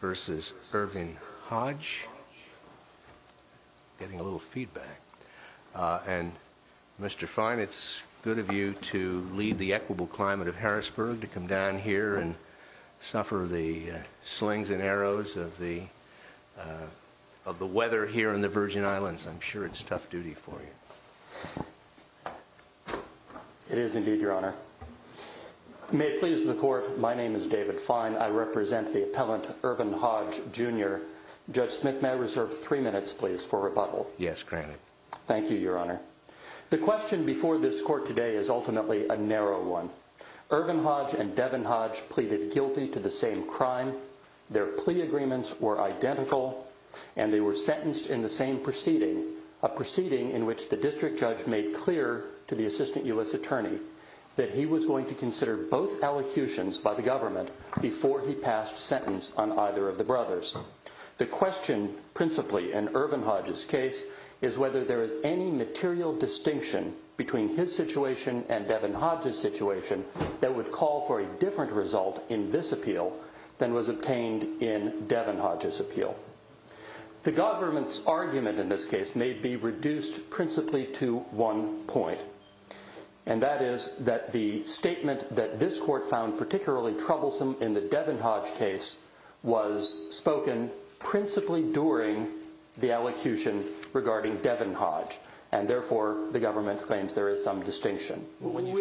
versus Irvin Hodge Getting a little feedback and Mr. Fine, it's good of you to lead the equitable climate of Harrisburg to come down here and suffer the slings and arrows of the Of the weather here in the Virgin Islands. I'm sure it's tough duty for you It is indeed your honor May please the court. My name is David fine. I represent the appellant Irvin Hodge jr Judge Smith may reserve three minutes, please for rebuttal. Yes, granted. Thank you your honor The question before this court today is ultimately a narrow one Irvin Hodge and Devin Hodge pleaded guilty to the same crime their plea agreements were identical and they were sentenced in the same proceeding a Consider both allocutions by the government before he passed sentence on either of the brothers the question principally in Irvin Hodge's case is whether there is any material distinction between his situation and Devin Hodge's Situation that would call for a different result in this appeal than was obtained in Devin Hodge's appeal the government's argument in this case may be reduced principally to one point and Statement that this court found particularly troublesome in the Devin Hodge case was spoken principally during the allocution regarding Devin Hodge and therefore the government claims there is some distinction when you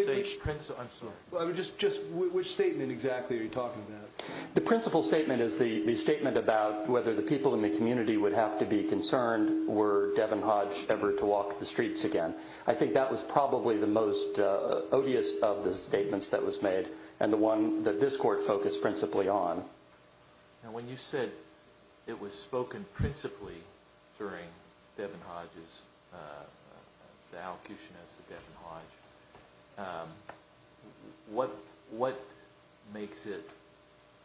Well, I would just just which statement exactly are you talking about? The principal statement is the the statement about whether the people in the community would have to be concerned Were Devin Hodge ever to walk the streets again? I think that was probably the most Odious of the statements that was made and the one that this court focused principally on Now when you said it was spoken principally during Devin Hodge's What what makes it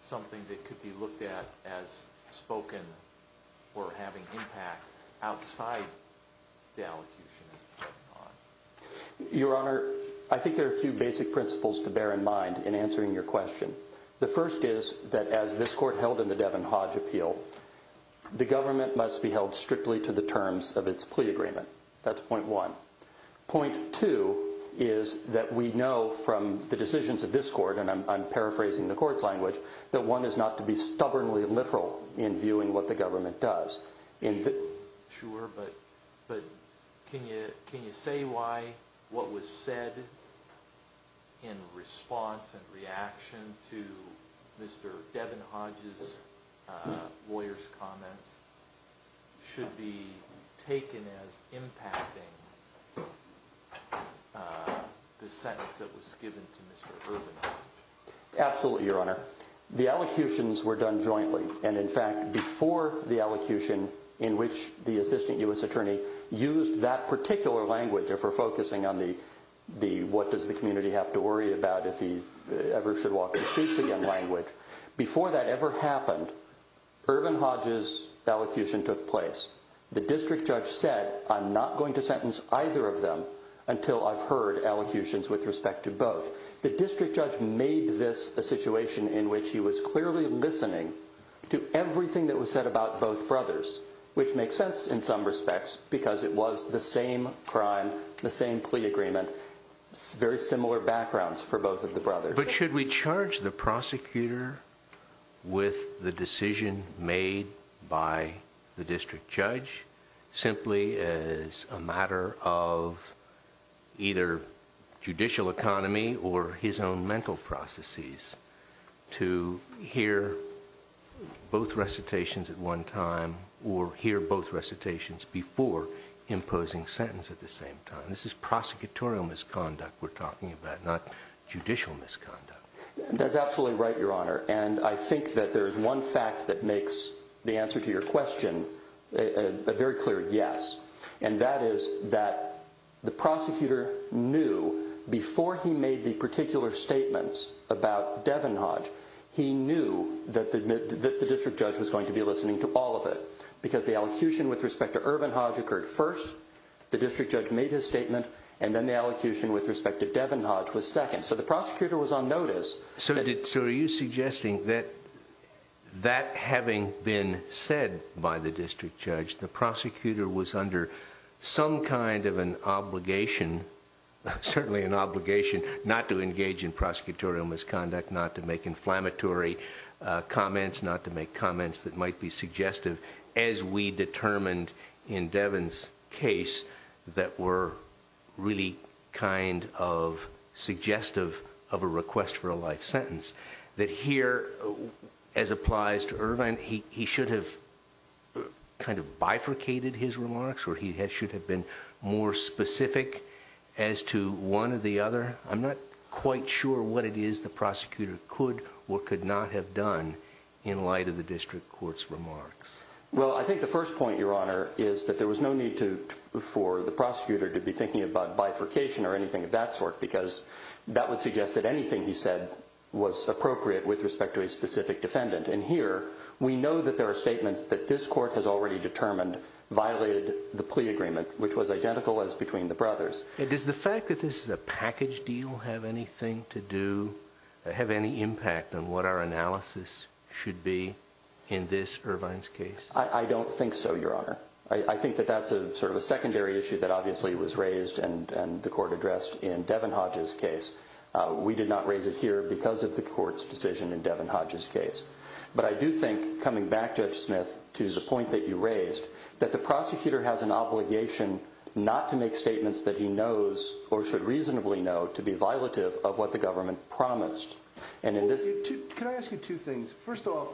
something that could be looked at as spoken or having impact outside The allocution Your honor, I think there are a few basic principles to bear in mind in answering your question The first is that as this court held in the Devin Hodge appeal? The government must be held strictly to the terms of its plea agreement. That's point one Point two is that we know from the decisions of this court And I'm paraphrasing the court's language that one is not to be stubbornly literal in viewing what the government does in Sure, but but can you can you say why what was said in response and reaction to Mr. Devin Hodge's lawyers comments Should be taken as impacting The sentence that was given to mr. Urban Absolutely, your honor the allocutions were done jointly and in fact before the allocution in which the assistant u.s attorney used that particular language or for focusing on the The what does the community have to worry about if he ever should walk the streets again language before that ever happened? Urban Hodge's Allocution took place the district judge said I'm not going to sentence either of them until I've heard Allocutions with respect to both the district judge made this a situation in which he was clearly listening To everything that was said about both brothers Which makes sense in some respects because it was the same crime the same plea agreement Very similar backgrounds for both of the brothers, but should we charge the prosecutor? with the decision made by the district judge simply as a matter of either judicial economy or his own mental processes to hear both recitations at one time or hear both recitations before Imposing sentence at the same time. This is prosecutorial misconduct. We're talking about not judicial misconduct That's absolutely right your honor. And I think that there is one fact that makes the answer to your question a Is that the prosecutor knew before he made the particular statements about Devin Hodge He knew that the district judge was going to be listening to all of it because the allocution with respect to urban Hodge occurred first The district judge made his statement and then the allocution with respect to Devin Hodge was second So the prosecutor was on notice. So did so are you suggesting that? That having been said by the district judge. The prosecutor was under Some kind of an obligation Certainly an obligation not to engage in prosecutorial misconduct not to make inflammatory Comments not to make comments that might be suggestive as we determined in Devin's case that were really kind of Suggestive of a request for a life sentence that here as applies to Irvine. He should have Kind of bifurcated his remarks or he has should have been more specific as to one of the other I'm not quite sure what it is The prosecutor could or could not have done in light of the district courts remarks well I think the first point your honor is that there was no need to For the prosecutor to be thinking about bifurcation or anything of that sort because that would suggest that anything he said Was appropriate with respect to a specific defendant and here we know that there are statements that this court has already determined Violated the plea agreement, which was identical as between the brothers It is the fact that this is a package deal have anything to do Have any impact on what our analysis should be in this Irvine's case. I don't think so Your honor I think that that's a sort of a secondary issue that obviously was raised and and the court addressed in Devin Hodges case We did not raise it here because of the court's decision in Devin Hodges case But I do think coming back judge Smith to the point that you raised that the prosecutor has an obligation Not to make statements that he knows or should reasonably know to be violative of what the government promised And in this two things first off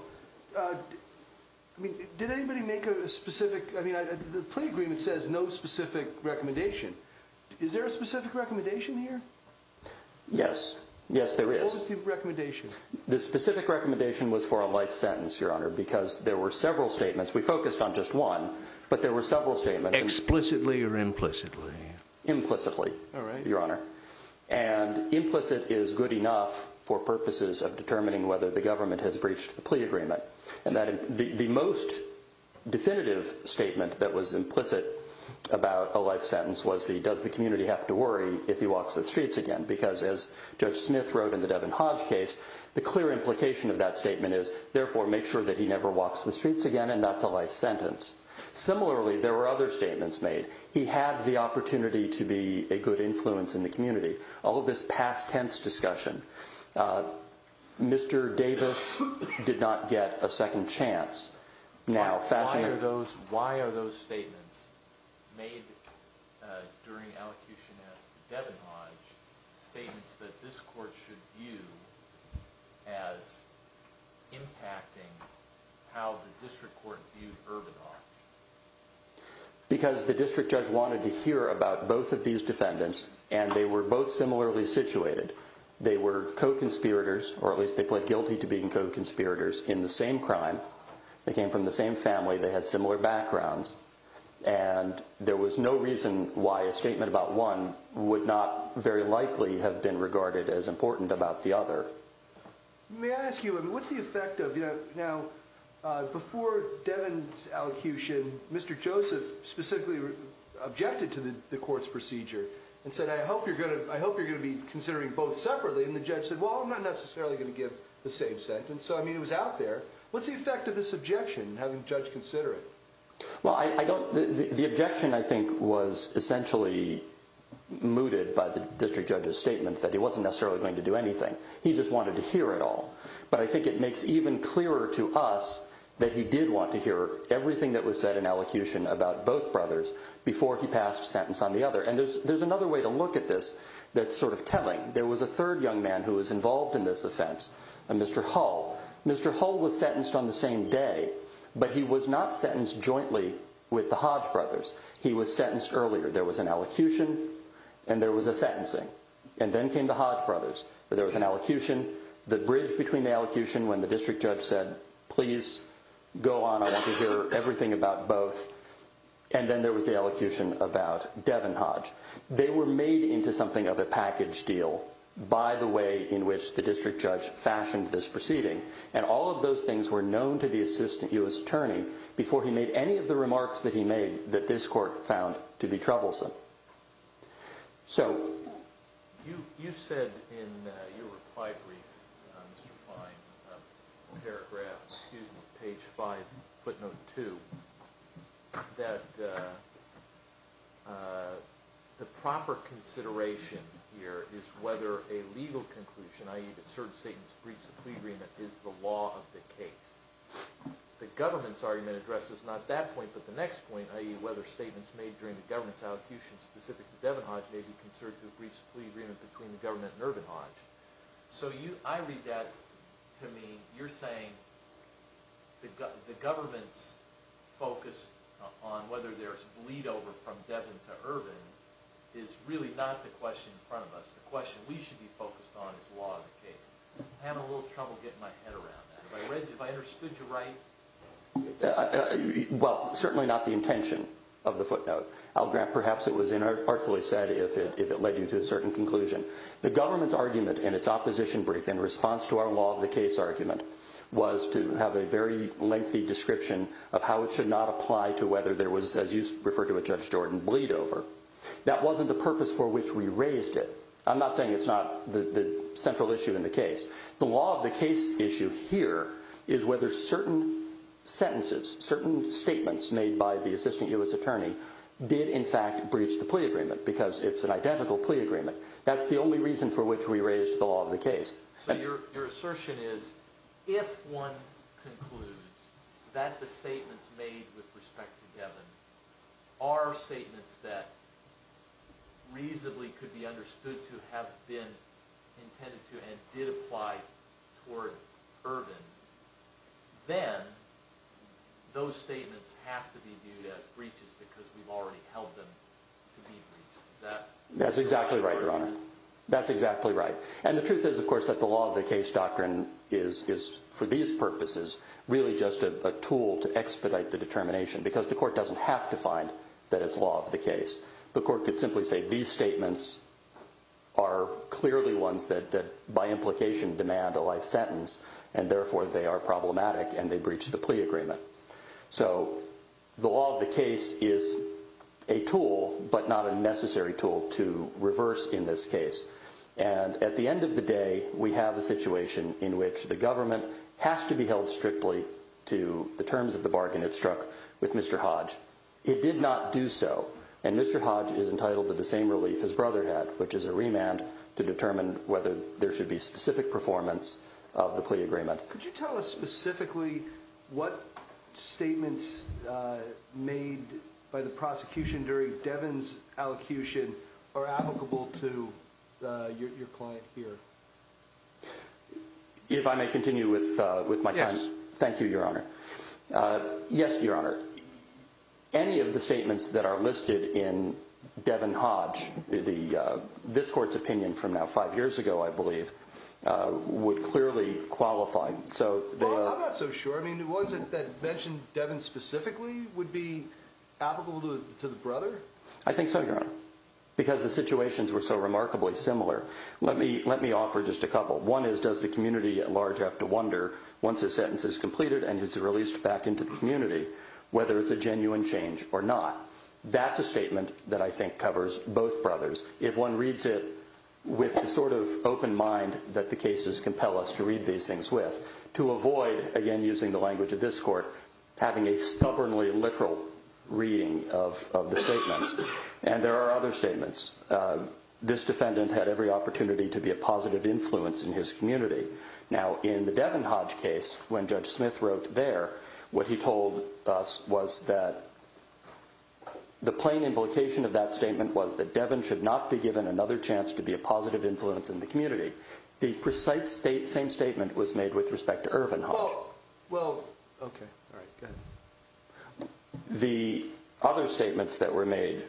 Did anybody make a specific I mean the plea agreement says no specific recommendation, is there a specific recommendation here Yes, yes, there is The specific recommendation was for a life sentence your honor because there were several statements We focused on just one but there were several statements explicitly or implicitly implicitly your honor and Implicit is good enough for purposes of determining whether the government has breached the plea agreement and that the most Definitive statement that was implicit about a life sentence was the does the community have to worry if he walks the streets again? Because as judge Smith wrote in the Devin Hodge case the clear implication of that statement is therefore make sure that he never walks The streets again, and that's a life sentence Similarly, there were other statements made he had the opportunity to be a good influence in the community all of this past tense discussion Mr. Davis did not get a second chance now fashion those why are those statements made? Statements that this court should view as Impacting Because the district judge wanted to hear about both of these defendants and they were both similarly situated They were co-conspirators or at least they pled guilty to being co-conspirators in the same crime. They came from the same family they had similar backgrounds and There was no reason why a statement about one would not very likely have been regarded as important about the other May I ask you what's the effect of you know now? Before Devin's allocution. Mr. Joseph specifically Objected to the court's procedure and said I hope you're good I hope you're gonna be considering both separately and the judge said well, I'm not necessarily gonna give the same sentence So I mean it was out there. What's the effect of this objection having judge consider it? Well, I don't the objection I think was essentially Mooted by the district judge's statement that he wasn't necessarily going to do anything He just wanted to hear it all but I think it makes even clearer to us That he did want to hear everything that was said in allocution about both brothers Before he passed sentence on the other and there's there's another way to look at this That's sort of telling there was a third young man who was involved in this offense and mr. Hall. Mr Hall was sentenced on the same day, but he was not sentenced jointly with the Hodge brothers. He was sentenced earlier There was an elocution and there was a sentencing and then came the Hodge brothers But there was an elocution the bridge between the elocution when the district judge said, please Go on. I want to hear everything about both and then there was the elocution about Devin Hodge They were made into something of a package deal By the way in which the district judge fashioned this proceeding and all of those things were known to the assistant u.s Attorney before he made any of the remarks that he made that this court found to be troublesome So You you said in your reply brief Paragraph excuse me page 5 footnote 2 that The proper consideration here is whether a legal conclusion ie that certain statements briefs a plea agreement is the law of the case The government's argument addresses not that point But the next point ie whether statements made during the government's allocutions specific to Devin Hodge may be considered to breach the plea agreement between the government Nervin Hodge So you I read that to me you're saying the government's Focus on whether there's bleed over from Devin to urban is really not the question in front of us The question we should be focused on is law Well Certainly not the intention of the footnote I'll grant perhaps it was in artfully said if it if it led you to a certain conclusion The government's argument in its opposition brief in response to our law of the case argument was to have a very lengthy Description of how it should not apply to whether there was as you refer to a judge Jordan bleed over That wasn't the purpose for which we raised it I'm not saying it's not the the central issue in the case. The law of the case issue here is whether certain Sentences certain statements made by the assistant US attorney did in fact breach the plea agreement because it's an identical plea agreement That's the only reason for which we raised the law of the case Your assertion is if one Are statements that Reasonably could be understood to have been Applied Then those statements have to be viewed as breaches because we've already held them That's exactly right your honor That's exactly right and the truth is of course that the law of the case doctrine is is for these purposes really just a tool to expedite the The court could simply say these statements are Clearly ones that that by implication demand a life sentence and therefore they are problematic and they breach the plea agreement so the law of the case is a Tool, but not a necessary tool to reverse in this case And at the end of the day we have a situation in which the government has to be held strictly To the terms of the bargain it struck with mr. Hodge Did not do so and mr. Hodge is entitled to the same relief his brother had which is a remand to determine whether there should be specific performance of the plea agreement Could you tell us specifically? What? statements Made by the prosecution during Devin's allocution are applicable to your client here If I may continue with with my yes, thank you your honor Yes, your honor Any of the statements that are listed in Devin Hodge the this court's opinion from now five years ago, I believe Would clearly qualify so Mentioned Devin specifically would be To the brother I think so your honor because the situations were so remarkably similar Let me let me offer just a couple one is does the community at large have to wonder once a sentence is completed and it's released Back into the community whether it's a genuine change or not That's a statement that I think covers both brothers if one reads it With a sort of open mind that the cases compel us to read these things with to avoid again using the language of this court Having a stubbornly literal reading of the statements and there are other statements This defendant had every opportunity to be a positive influence in his community Now in the Devin Hodge case when judge Smith wrote there what he told us was that The plain implication of that statement was that Devin should not be given another chance to be a positive influence in the community The precise state same statement was made with respect to Irvin The other statements that were made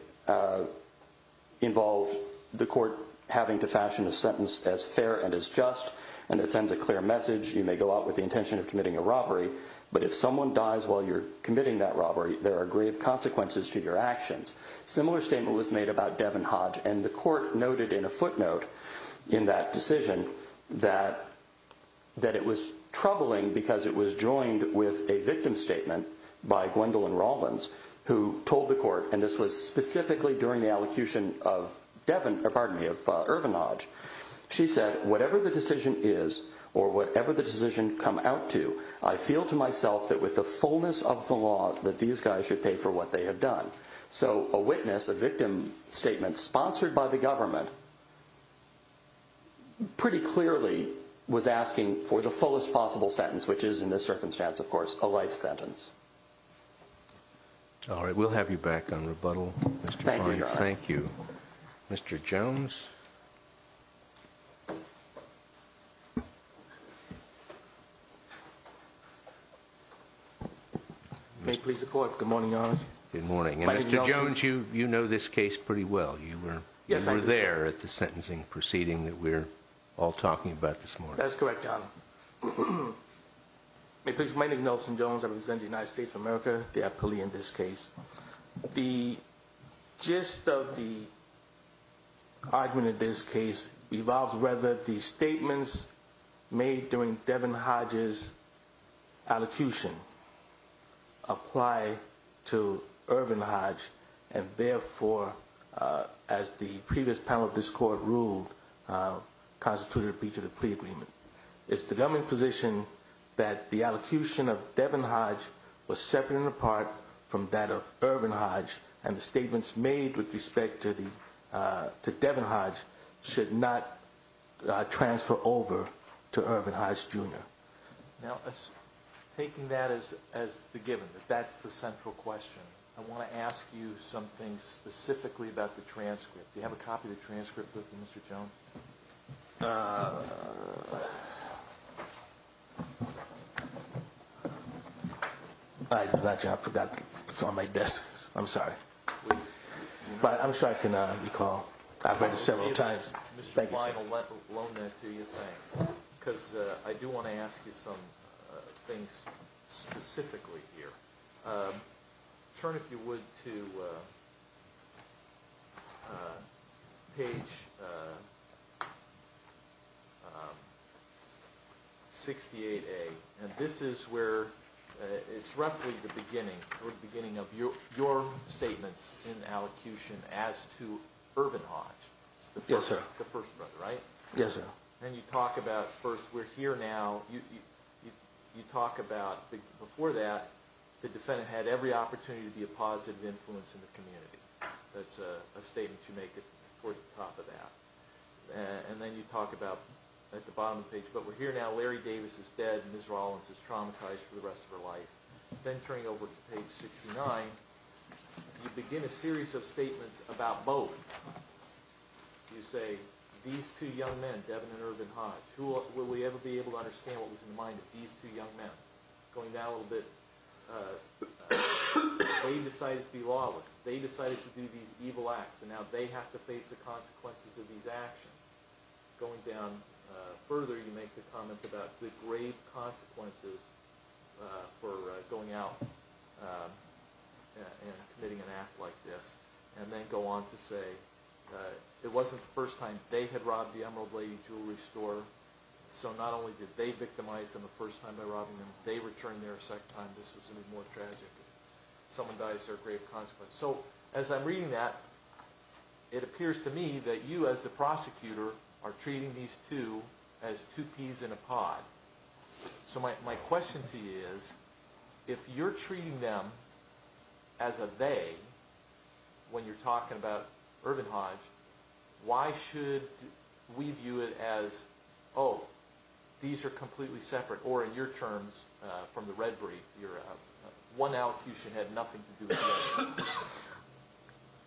Involved the court having to fashion a sentence as fair and as just and it sends a clear message You may go out with the intention of committing a robbery But if someone dies while you're committing that robbery there are grave consequences to your actions Similar statement was made about Devin Hodge and the court noted in a footnote in that decision that That it was troubling because it was joined with a victim statement by Gwendolyn Rollins Who told the court and this was specifically during the allocution of Devin pardon me of Irvin Hodge She said whatever the decision is or whatever the decision come out to I feel to myself that with the fullness of the law That these guys should pay for what they have done. So a witness a victim statement sponsored by the government Pretty clearly was asking for the fullest possible sentence, which is in this circumstance, of course a life sentence Alright, we'll have you back on rebuttal. Thank you. Thank you. Mr. Jones Make please the court. Good morning on good morning. Mr. Jones, you you know this case pretty well You were yes, I'm there at the sentencing proceeding that we're all talking about this morning. That's correct If there's my name Nelson Jones, I was in the United States of America the appellee in this case the gist of the Argument in this case revolves whether these statements made during Devin Hodges allocution Apply to Irvin Hodge and therefore as the previous panel of this court ruled Constituted a breach of the plea agreement It's the government position that the allocution of Devin Hodge was separate and apart from that of Irvin Hodge and the statements made with respect to the to Devin Hodge should not Transfer over to Irvin Hodge jr. Now Taking that as as the given that that's the central question. I want to ask you something I Got you, I forgot it's on my desk. I'm sorry, but I'm sure I can recall I've read it several times Because I do want to ask you some things specifically here turn if you would to Page 66 68 a and this is where It's roughly the beginning or the beginning of your your statements in allocution as to Irvin Hodge Yes, sir. The first brother right? Yes, sir, and you talk about first. We're here now you You talk about before that the defendant had every opportunity to be a positive influence in the community That's a statement you make it towards the top of that And then you talk about at the bottom of the page, but we're here now Larry Davis is dead And this Rollins is traumatized for the rest of her life been turning over to page 69 You begin a series of statements about both You say these two young men Devin and Irvin Hodge who will we ever be able to understand? What was in the mind of these two young men going down a little bit? They decided to be lawless they decided to do these evil acts and now they have to face the consequences of these actions going down Further you make the comment about the grave consequences for going out Committing an act like this and then go on to say It wasn't the first time they had robbed the Emerald Lady jewelry store So not only did they victimize them the first time by robbing them they return their second time this was a bit more tragic Someone dies their grave consequence so as I'm reading that It appears to me that you as the prosecutor are treating these two as two peas in a pod So my question to you is if you're treating them as a they When you're talking about Irvin Hodge why should We view it as oh These are completely separate or in your terms from the red brief. You're one out. You should have nothing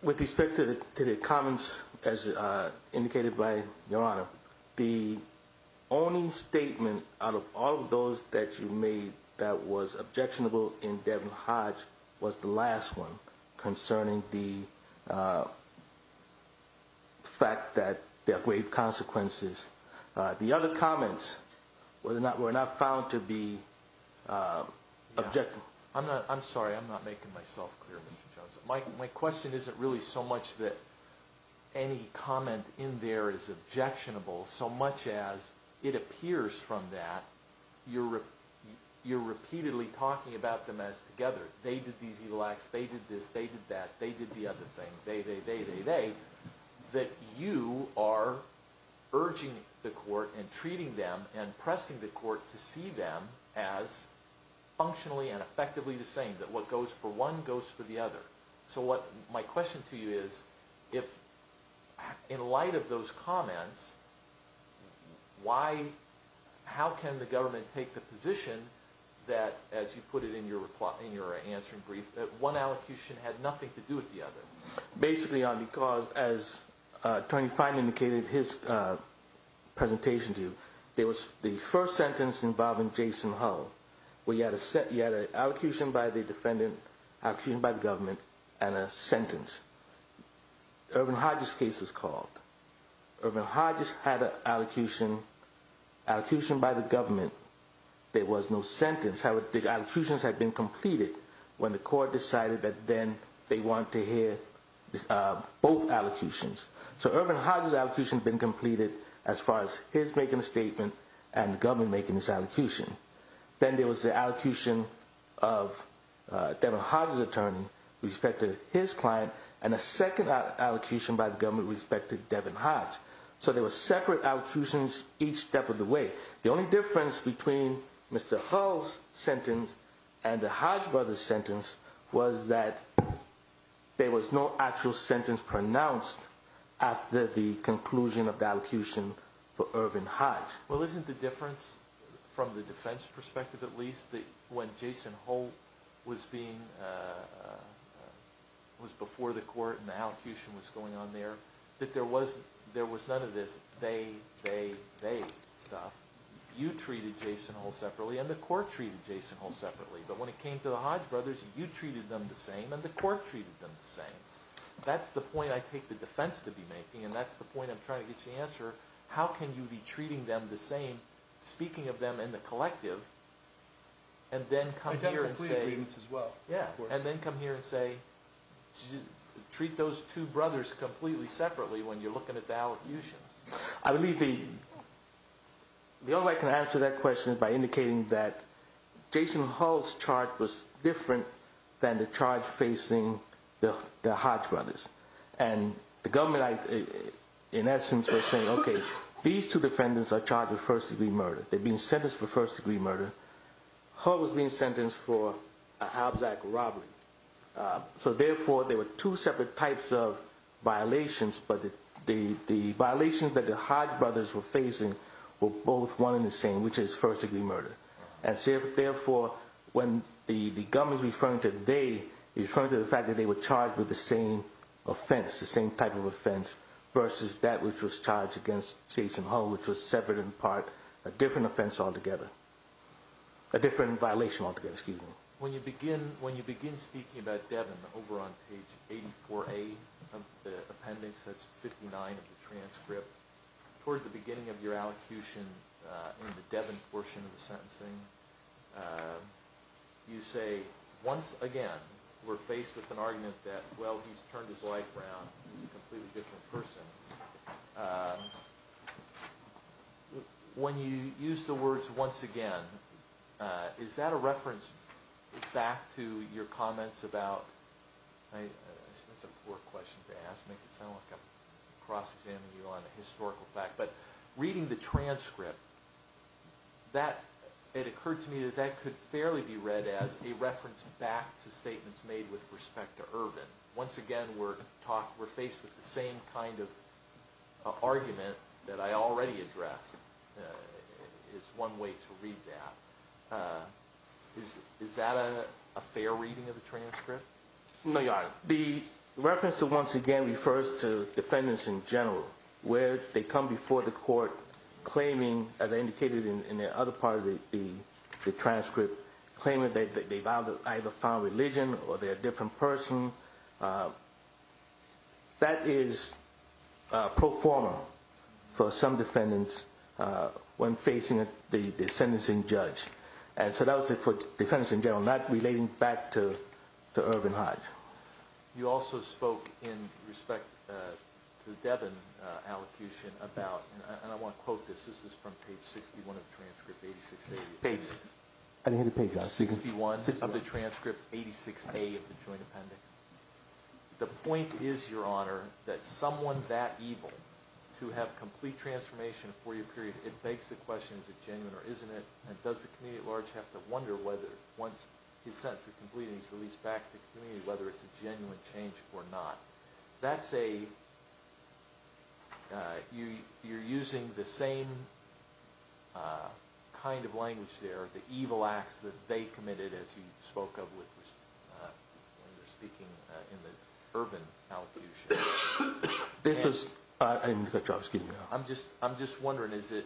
With respect to the comments as indicated by your honor the Only statement out of all of those that you made that was objectionable in Devin Hodge was the last one concerning the The fact that their grave consequences the other comments whether or not were not found to be Objective I'm not I'm sorry. I'm not making myself clear. Mr. Jones. My question isn't really so much that Any comment in there is objectionable so much as it appears from that You're You're repeatedly talking about them as together. They did these evil acts. They did this they did that they did the other thing they they they they they that you are urging the court and treating them and pressing the court to see them as Functionally and effectively the same that what goes for one goes for the other. So what my question to you is if in light of those comments Why How can the government take the position? That as you put it in your reply in your answering brief that one allocution had nothing to do with the other basically on because as Tony finally indicated his Presentation to you. There was the first sentence involving Jason Hull We had a set yet an allocution by the defendant actually by the government and a sentence Urban Hodges case was called Urban Hodges had an allocution allocution by the government There was no sentence. How would the allocutions had been completed when the court decided that then they want to hear? both allocutions So Urban Hodges allocution been completed as far as his making a statement and government making this allocution then there was the allocution of Devin Hodges attorney Respected his client and a second allocution by the government respected Devin Hodge So there was separate allocutions each step of the way the only difference between Mr. Hull's sentence and the Hodge brothers sentence was that There was no actual sentence pronounced after the conclusion of the allocution for urban Hodge Well, isn't the difference from the defense perspective at least the when Jason Hull was being Was before the court and the allocution was going on there that there was there was none of this they they they You treated Jason Hull separately and the court treated Jason Hull separately But when it came to the Hodge brothers you treated them the same and the court treated them the same That's the point. I take the defense to be making and that's the point I'm trying to get you answer. How can you be treating them the same speaking of them in the collective and Then come here and say as well. Yeah, and then come here and say Treat those two brothers completely separately when you're looking at the allocutions, I believe the the only way I can answer that question is by indicating that Jason Hull's charge was different than the charge facing the Hodge brothers and the government In essence, we're saying okay. These two defendants are charged with first-degree murder. They've been sentenced for first-degree murder Hull was being sentenced for a Hobbs act robbery so therefore there were two separate types of violations, but the Violations that the Hodge brothers were facing were both one in the same which is first-degree murder and said therefore When the the government's referring to they refer to the fact that they were charged with the same Offense the same type of offense versus that which was charged against Jason Hull which was severed in part a different offense altogether a Different violation altogether. Excuse me when you begin when you begin speaking about Devin over on page 84 a Appendix that's 59 of the transcript toward the beginning of your allocution in the Devin portion of the sentencing You say once again, we're faced with an argument that well, he's turned his life around When you use the words once again, is that a reference back to your comments about I'm cross-examining you on a historical fact, but reading the transcript That it occurred to me that that could fairly be read as a reference back to statements made with respect to urban once again, we're talk we're faced with the same kind of Argument that I already addressed It's one way to read that Is is that a fair reading of the transcript? No, your honor the reference to once again refers to defendants in general where they come before the court Claiming as I indicated in the other part of the the transcript claiming that they've either found religion or they're a different person That is Proforma for some defendants When facing it the sentencing judge and so that was it for defense in general not relating back to to Irvin Hodge You also spoke in respect Devin Allocution about and I want to quote this. This is from page 61 of transcript 86 Hey, I didn't hit the page. I see one of the transcript 86 a of the joint appendix The point is your honor that someone that evil to have complete transformation for your period it begs the question Is it genuine or isn't it and does the community at large have to wonder whether once his sense of completing is released back to community Whether it's a genuine change or not. That's a You you're using the same Kind of language there the evil acts that they committed as he spoke of with When you're speaking in the urban This is I'm just I'm just wondering is it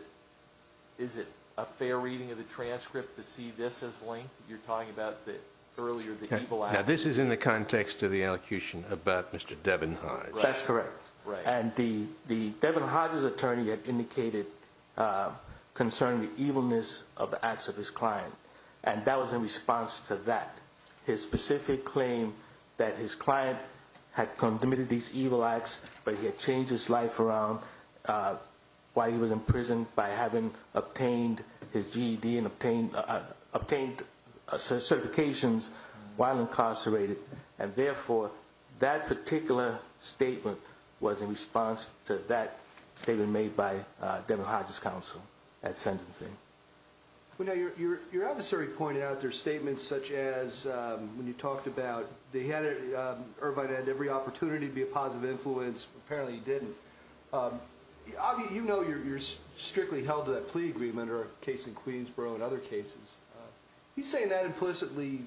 is it a fair reading of the transcript to see this as link? You're talking about that earlier. This is in the context of the allocution about mr. Devin Hodge, that's correct, right and the the Devin Hodges attorney had indicated Concerning the evilness of the acts of his client and that was in response to that His specific claim that his client had committed these evil acts, but he had changed his life around Why he was in prison by having obtained his GED and obtained obtained certifications while incarcerated and therefore that particular Statement was in response to that statement made by Devin Hodges counsel at sentencing We know you're your adversary pointed out their statements such as when you talked about they had Irvine and every opportunity to be a positive influence apparently didn't You know, you're strictly held to that plea agreement or a case in Queensborough in other cases He's saying that implicitly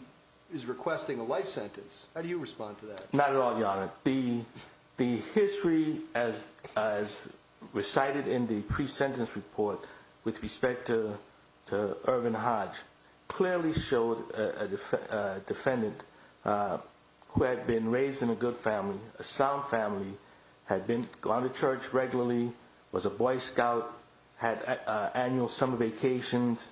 is requesting a life sentence. How do you respond to that? Not at all? the the history as Recited in the pre-sentence report with respect to to Irvin Hodge clearly showed a defendant Who had been raised in a good family a sound family had been gone to church regularly was a Boy Scout had annual summer vacations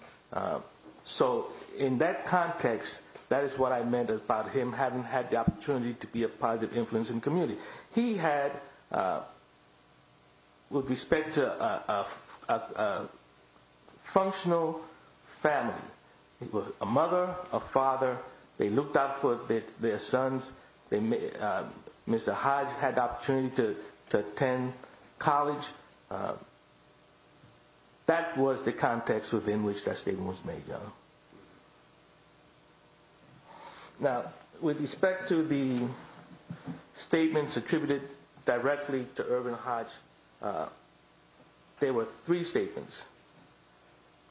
So in that context that is what I meant about him having had the opportunity to be a positive influence in community he had With respect to a Functional family it was a mother a father. They looked out for their sons. They Mr. Hodge had opportunity to attend college That was the context within which that statement was made Now with respect to the Statements attributed directly to Irvin Hodge There were three statements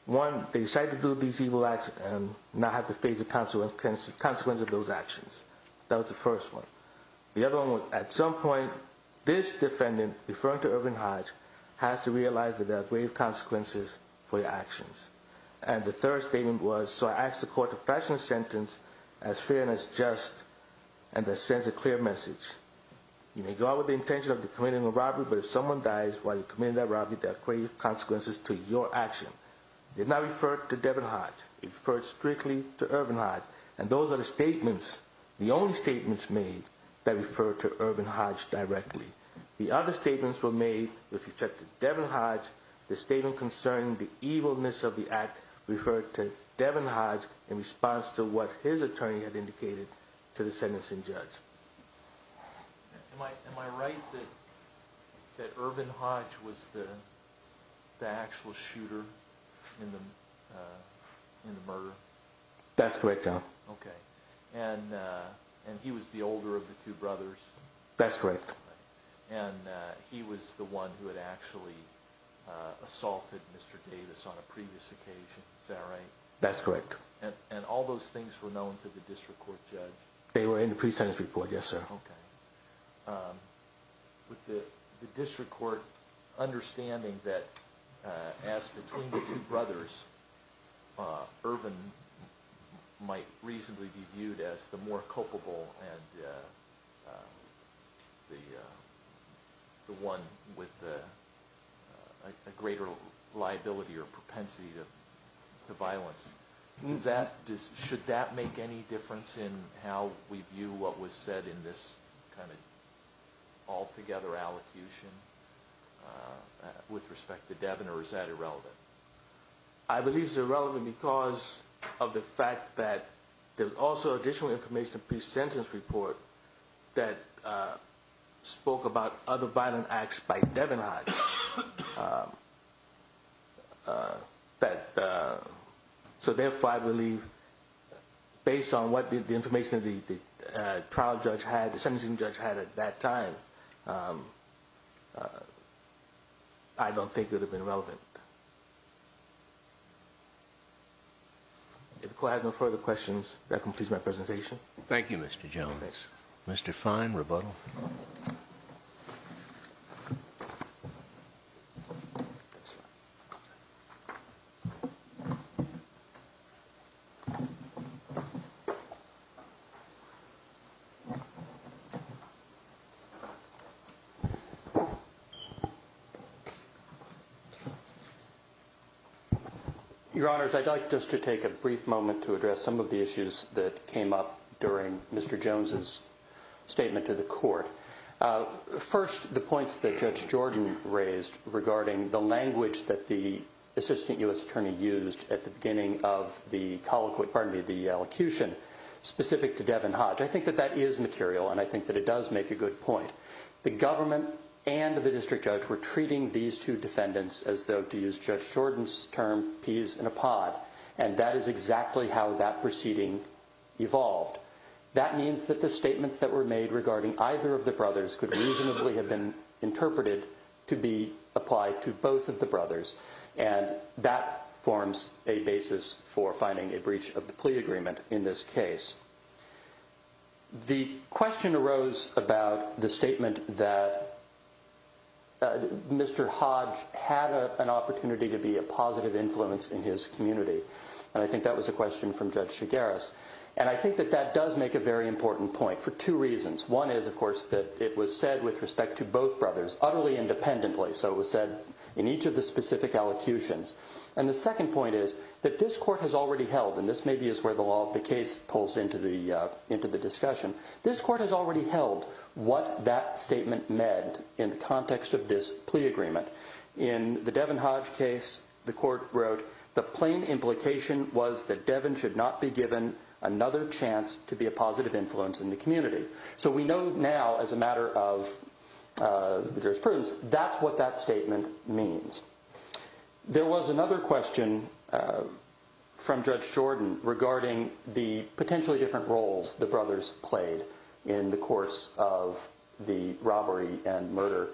One they decided to do these evil acts and not have the phase of council and consist consequence of those actions That was the first one the other one at some point this defendant referring to Irvin Hodge Has to realize that there are grave consequences for your actions and the third statement was so I asked the court to fashion a sentence as fair and as just and That sends a clear message You may go out with the intention of the committing a robbery But if someone dies while you're committing that robbery that grave consequences to your action Did not refer to Devin Hodge it first strictly to Irvin Hodge And those are the statements the only statements made that refer to Irvin Hodge Directly the other statements were made with respect to Devin Hodge the statement concerning the evilness of the act Referred to Devin Hodge in response to what his attorney had indicated to the sentencing judge Am I am I right that that Irvin Hodge was the actual shooter in the in the murder That's great job. Okay, and And he was the older of the two brothers. That's correct, and he was the one who had actually Assaulted mr. Davis on a previous occasion. Is that right? That's correct And and all those things were known to the district court judge. They were in the pre-sentence report. Yes, sir Okay With the district court understanding that as between the two brothers Irvin might reasonably be viewed as the more culpable and The one with a greater liability or propensity to The violence means that just should that make any difference in how we view what was said in this kind of altogether allocution With respect to Devin or is that irrelevant I believe is irrelevant because of the fact that there's also additional information pre-sentence report that spoke about other violent acts by Devin Hodge But So therefore I believe based on what did the information of the Trial judge had the sentencing judge had at that time I Don't think it would have been relevant If I have no further questions that completes my presentation, thank you, mr. Jones, mr. Fine rebuttal You Your honors I'd like just to take a brief moment to address some of the issues that came up during mr. Jones's statement to the court First the points that judge Jordan raised regarding the language that the Assistant US attorney used at the beginning of the colloquy pardon me the allocution Specific to Devin Hodge. I think that that is material and I think that it does make a good point The government and the district judge were treating these two defendants as though to use judge Jordans term peas in a pod And that is exactly how that proceeding Evolved that means that the statements that were made regarding either of the brothers could reasonably have been interpreted to be applied to both of the brothers and That forms a basis for finding a breach of the plea agreement in this case The question arose about the statement that Mr. Hodge had an opportunity to be a positive influence in his community And I think that was a question from judge Chigaris And I think that that does make a very important point for two reasons One is of course that it was said with respect to both brothers utterly independently So it was said in each of the specific allocutions and the second point is that this court has already held and this may be is where the law of the case pulls into the Into the discussion this court has already held what that statement meant in the context of this plea agreement In the Devon Hodge case the court wrote the plain implication was that Devon should not be given Another chance to be a positive influence in the community. So we know now as a matter of The jurisprudence, that's what that statement means There was another question from judge Jordan regarding the potentially different roles the brothers played in the course of The robbery and murder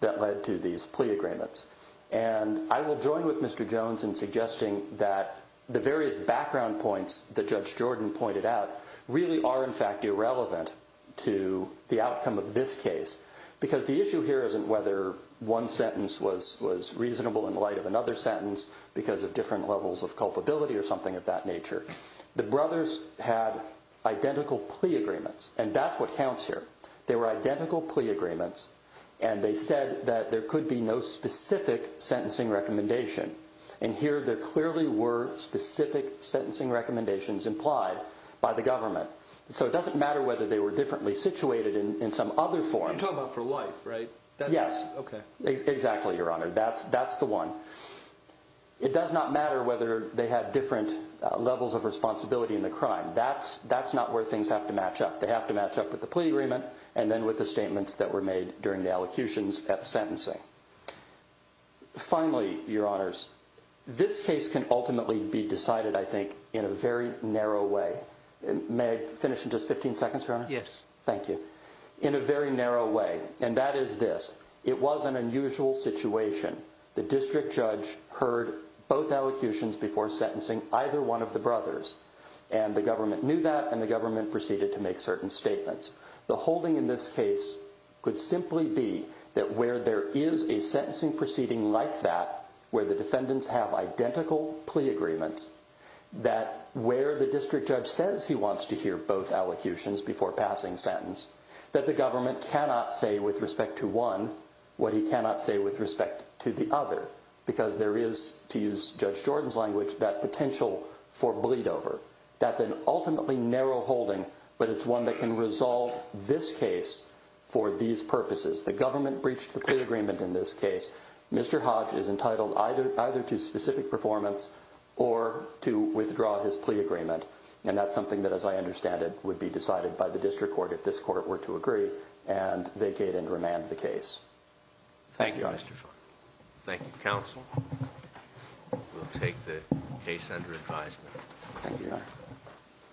that led to these plea agreements and I will join with mr Jones in suggesting that the various background points that judge Jordan pointed out really are in fact irrelevant to The outcome of this case because the issue here isn't whether One sentence was was reasonable in light of another sentence because of different levels of culpability or something of that nature the brothers had Identical plea agreements and they said that there could be no specific Sentencing recommendation and here there clearly were specific Sentencing recommendations implied by the government. So it doesn't matter whether they were differently situated in some other form Yes, okay. Exactly. Your honor. That's that's the one It does not matter whether they had different levels of responsibility in the crime That's that's not where things have to match up They have to match up with the plea agreement and then with the statements that were made during the allocutions at the sentencing Finally your honors This case can ultimately be decided I think in a very narrow way and may finish in just 15 seconds, right? Yes. Thank you in a very narrow way and that is this it was an unusual situation The district judge heard both allocutions before sentencing either one of the brothers and The government knew that and the government proceeded to make certain statements the holding in this case Could simply be that where there is a sentencing proceeding like that where the defendants have identical plea agreements That where the district judge says he wants to hear both allocutions before passing sentence that the government cannot say with respect to one What he cannot say with respect to the other because there is to use judge Jordan's language that potential for bleed-over That's an ultimately narrow holding but it's one that can resolve this case for these purposes The government breached the agreement in this case. Mr. Hodge is entitled either either to specific performance or to withdraw his plea agreement and that's something that as I understand it would be decided by the district court if this court were to agree and vacate and remand the case Thank you. Thank you counsel We'll take the case under advisement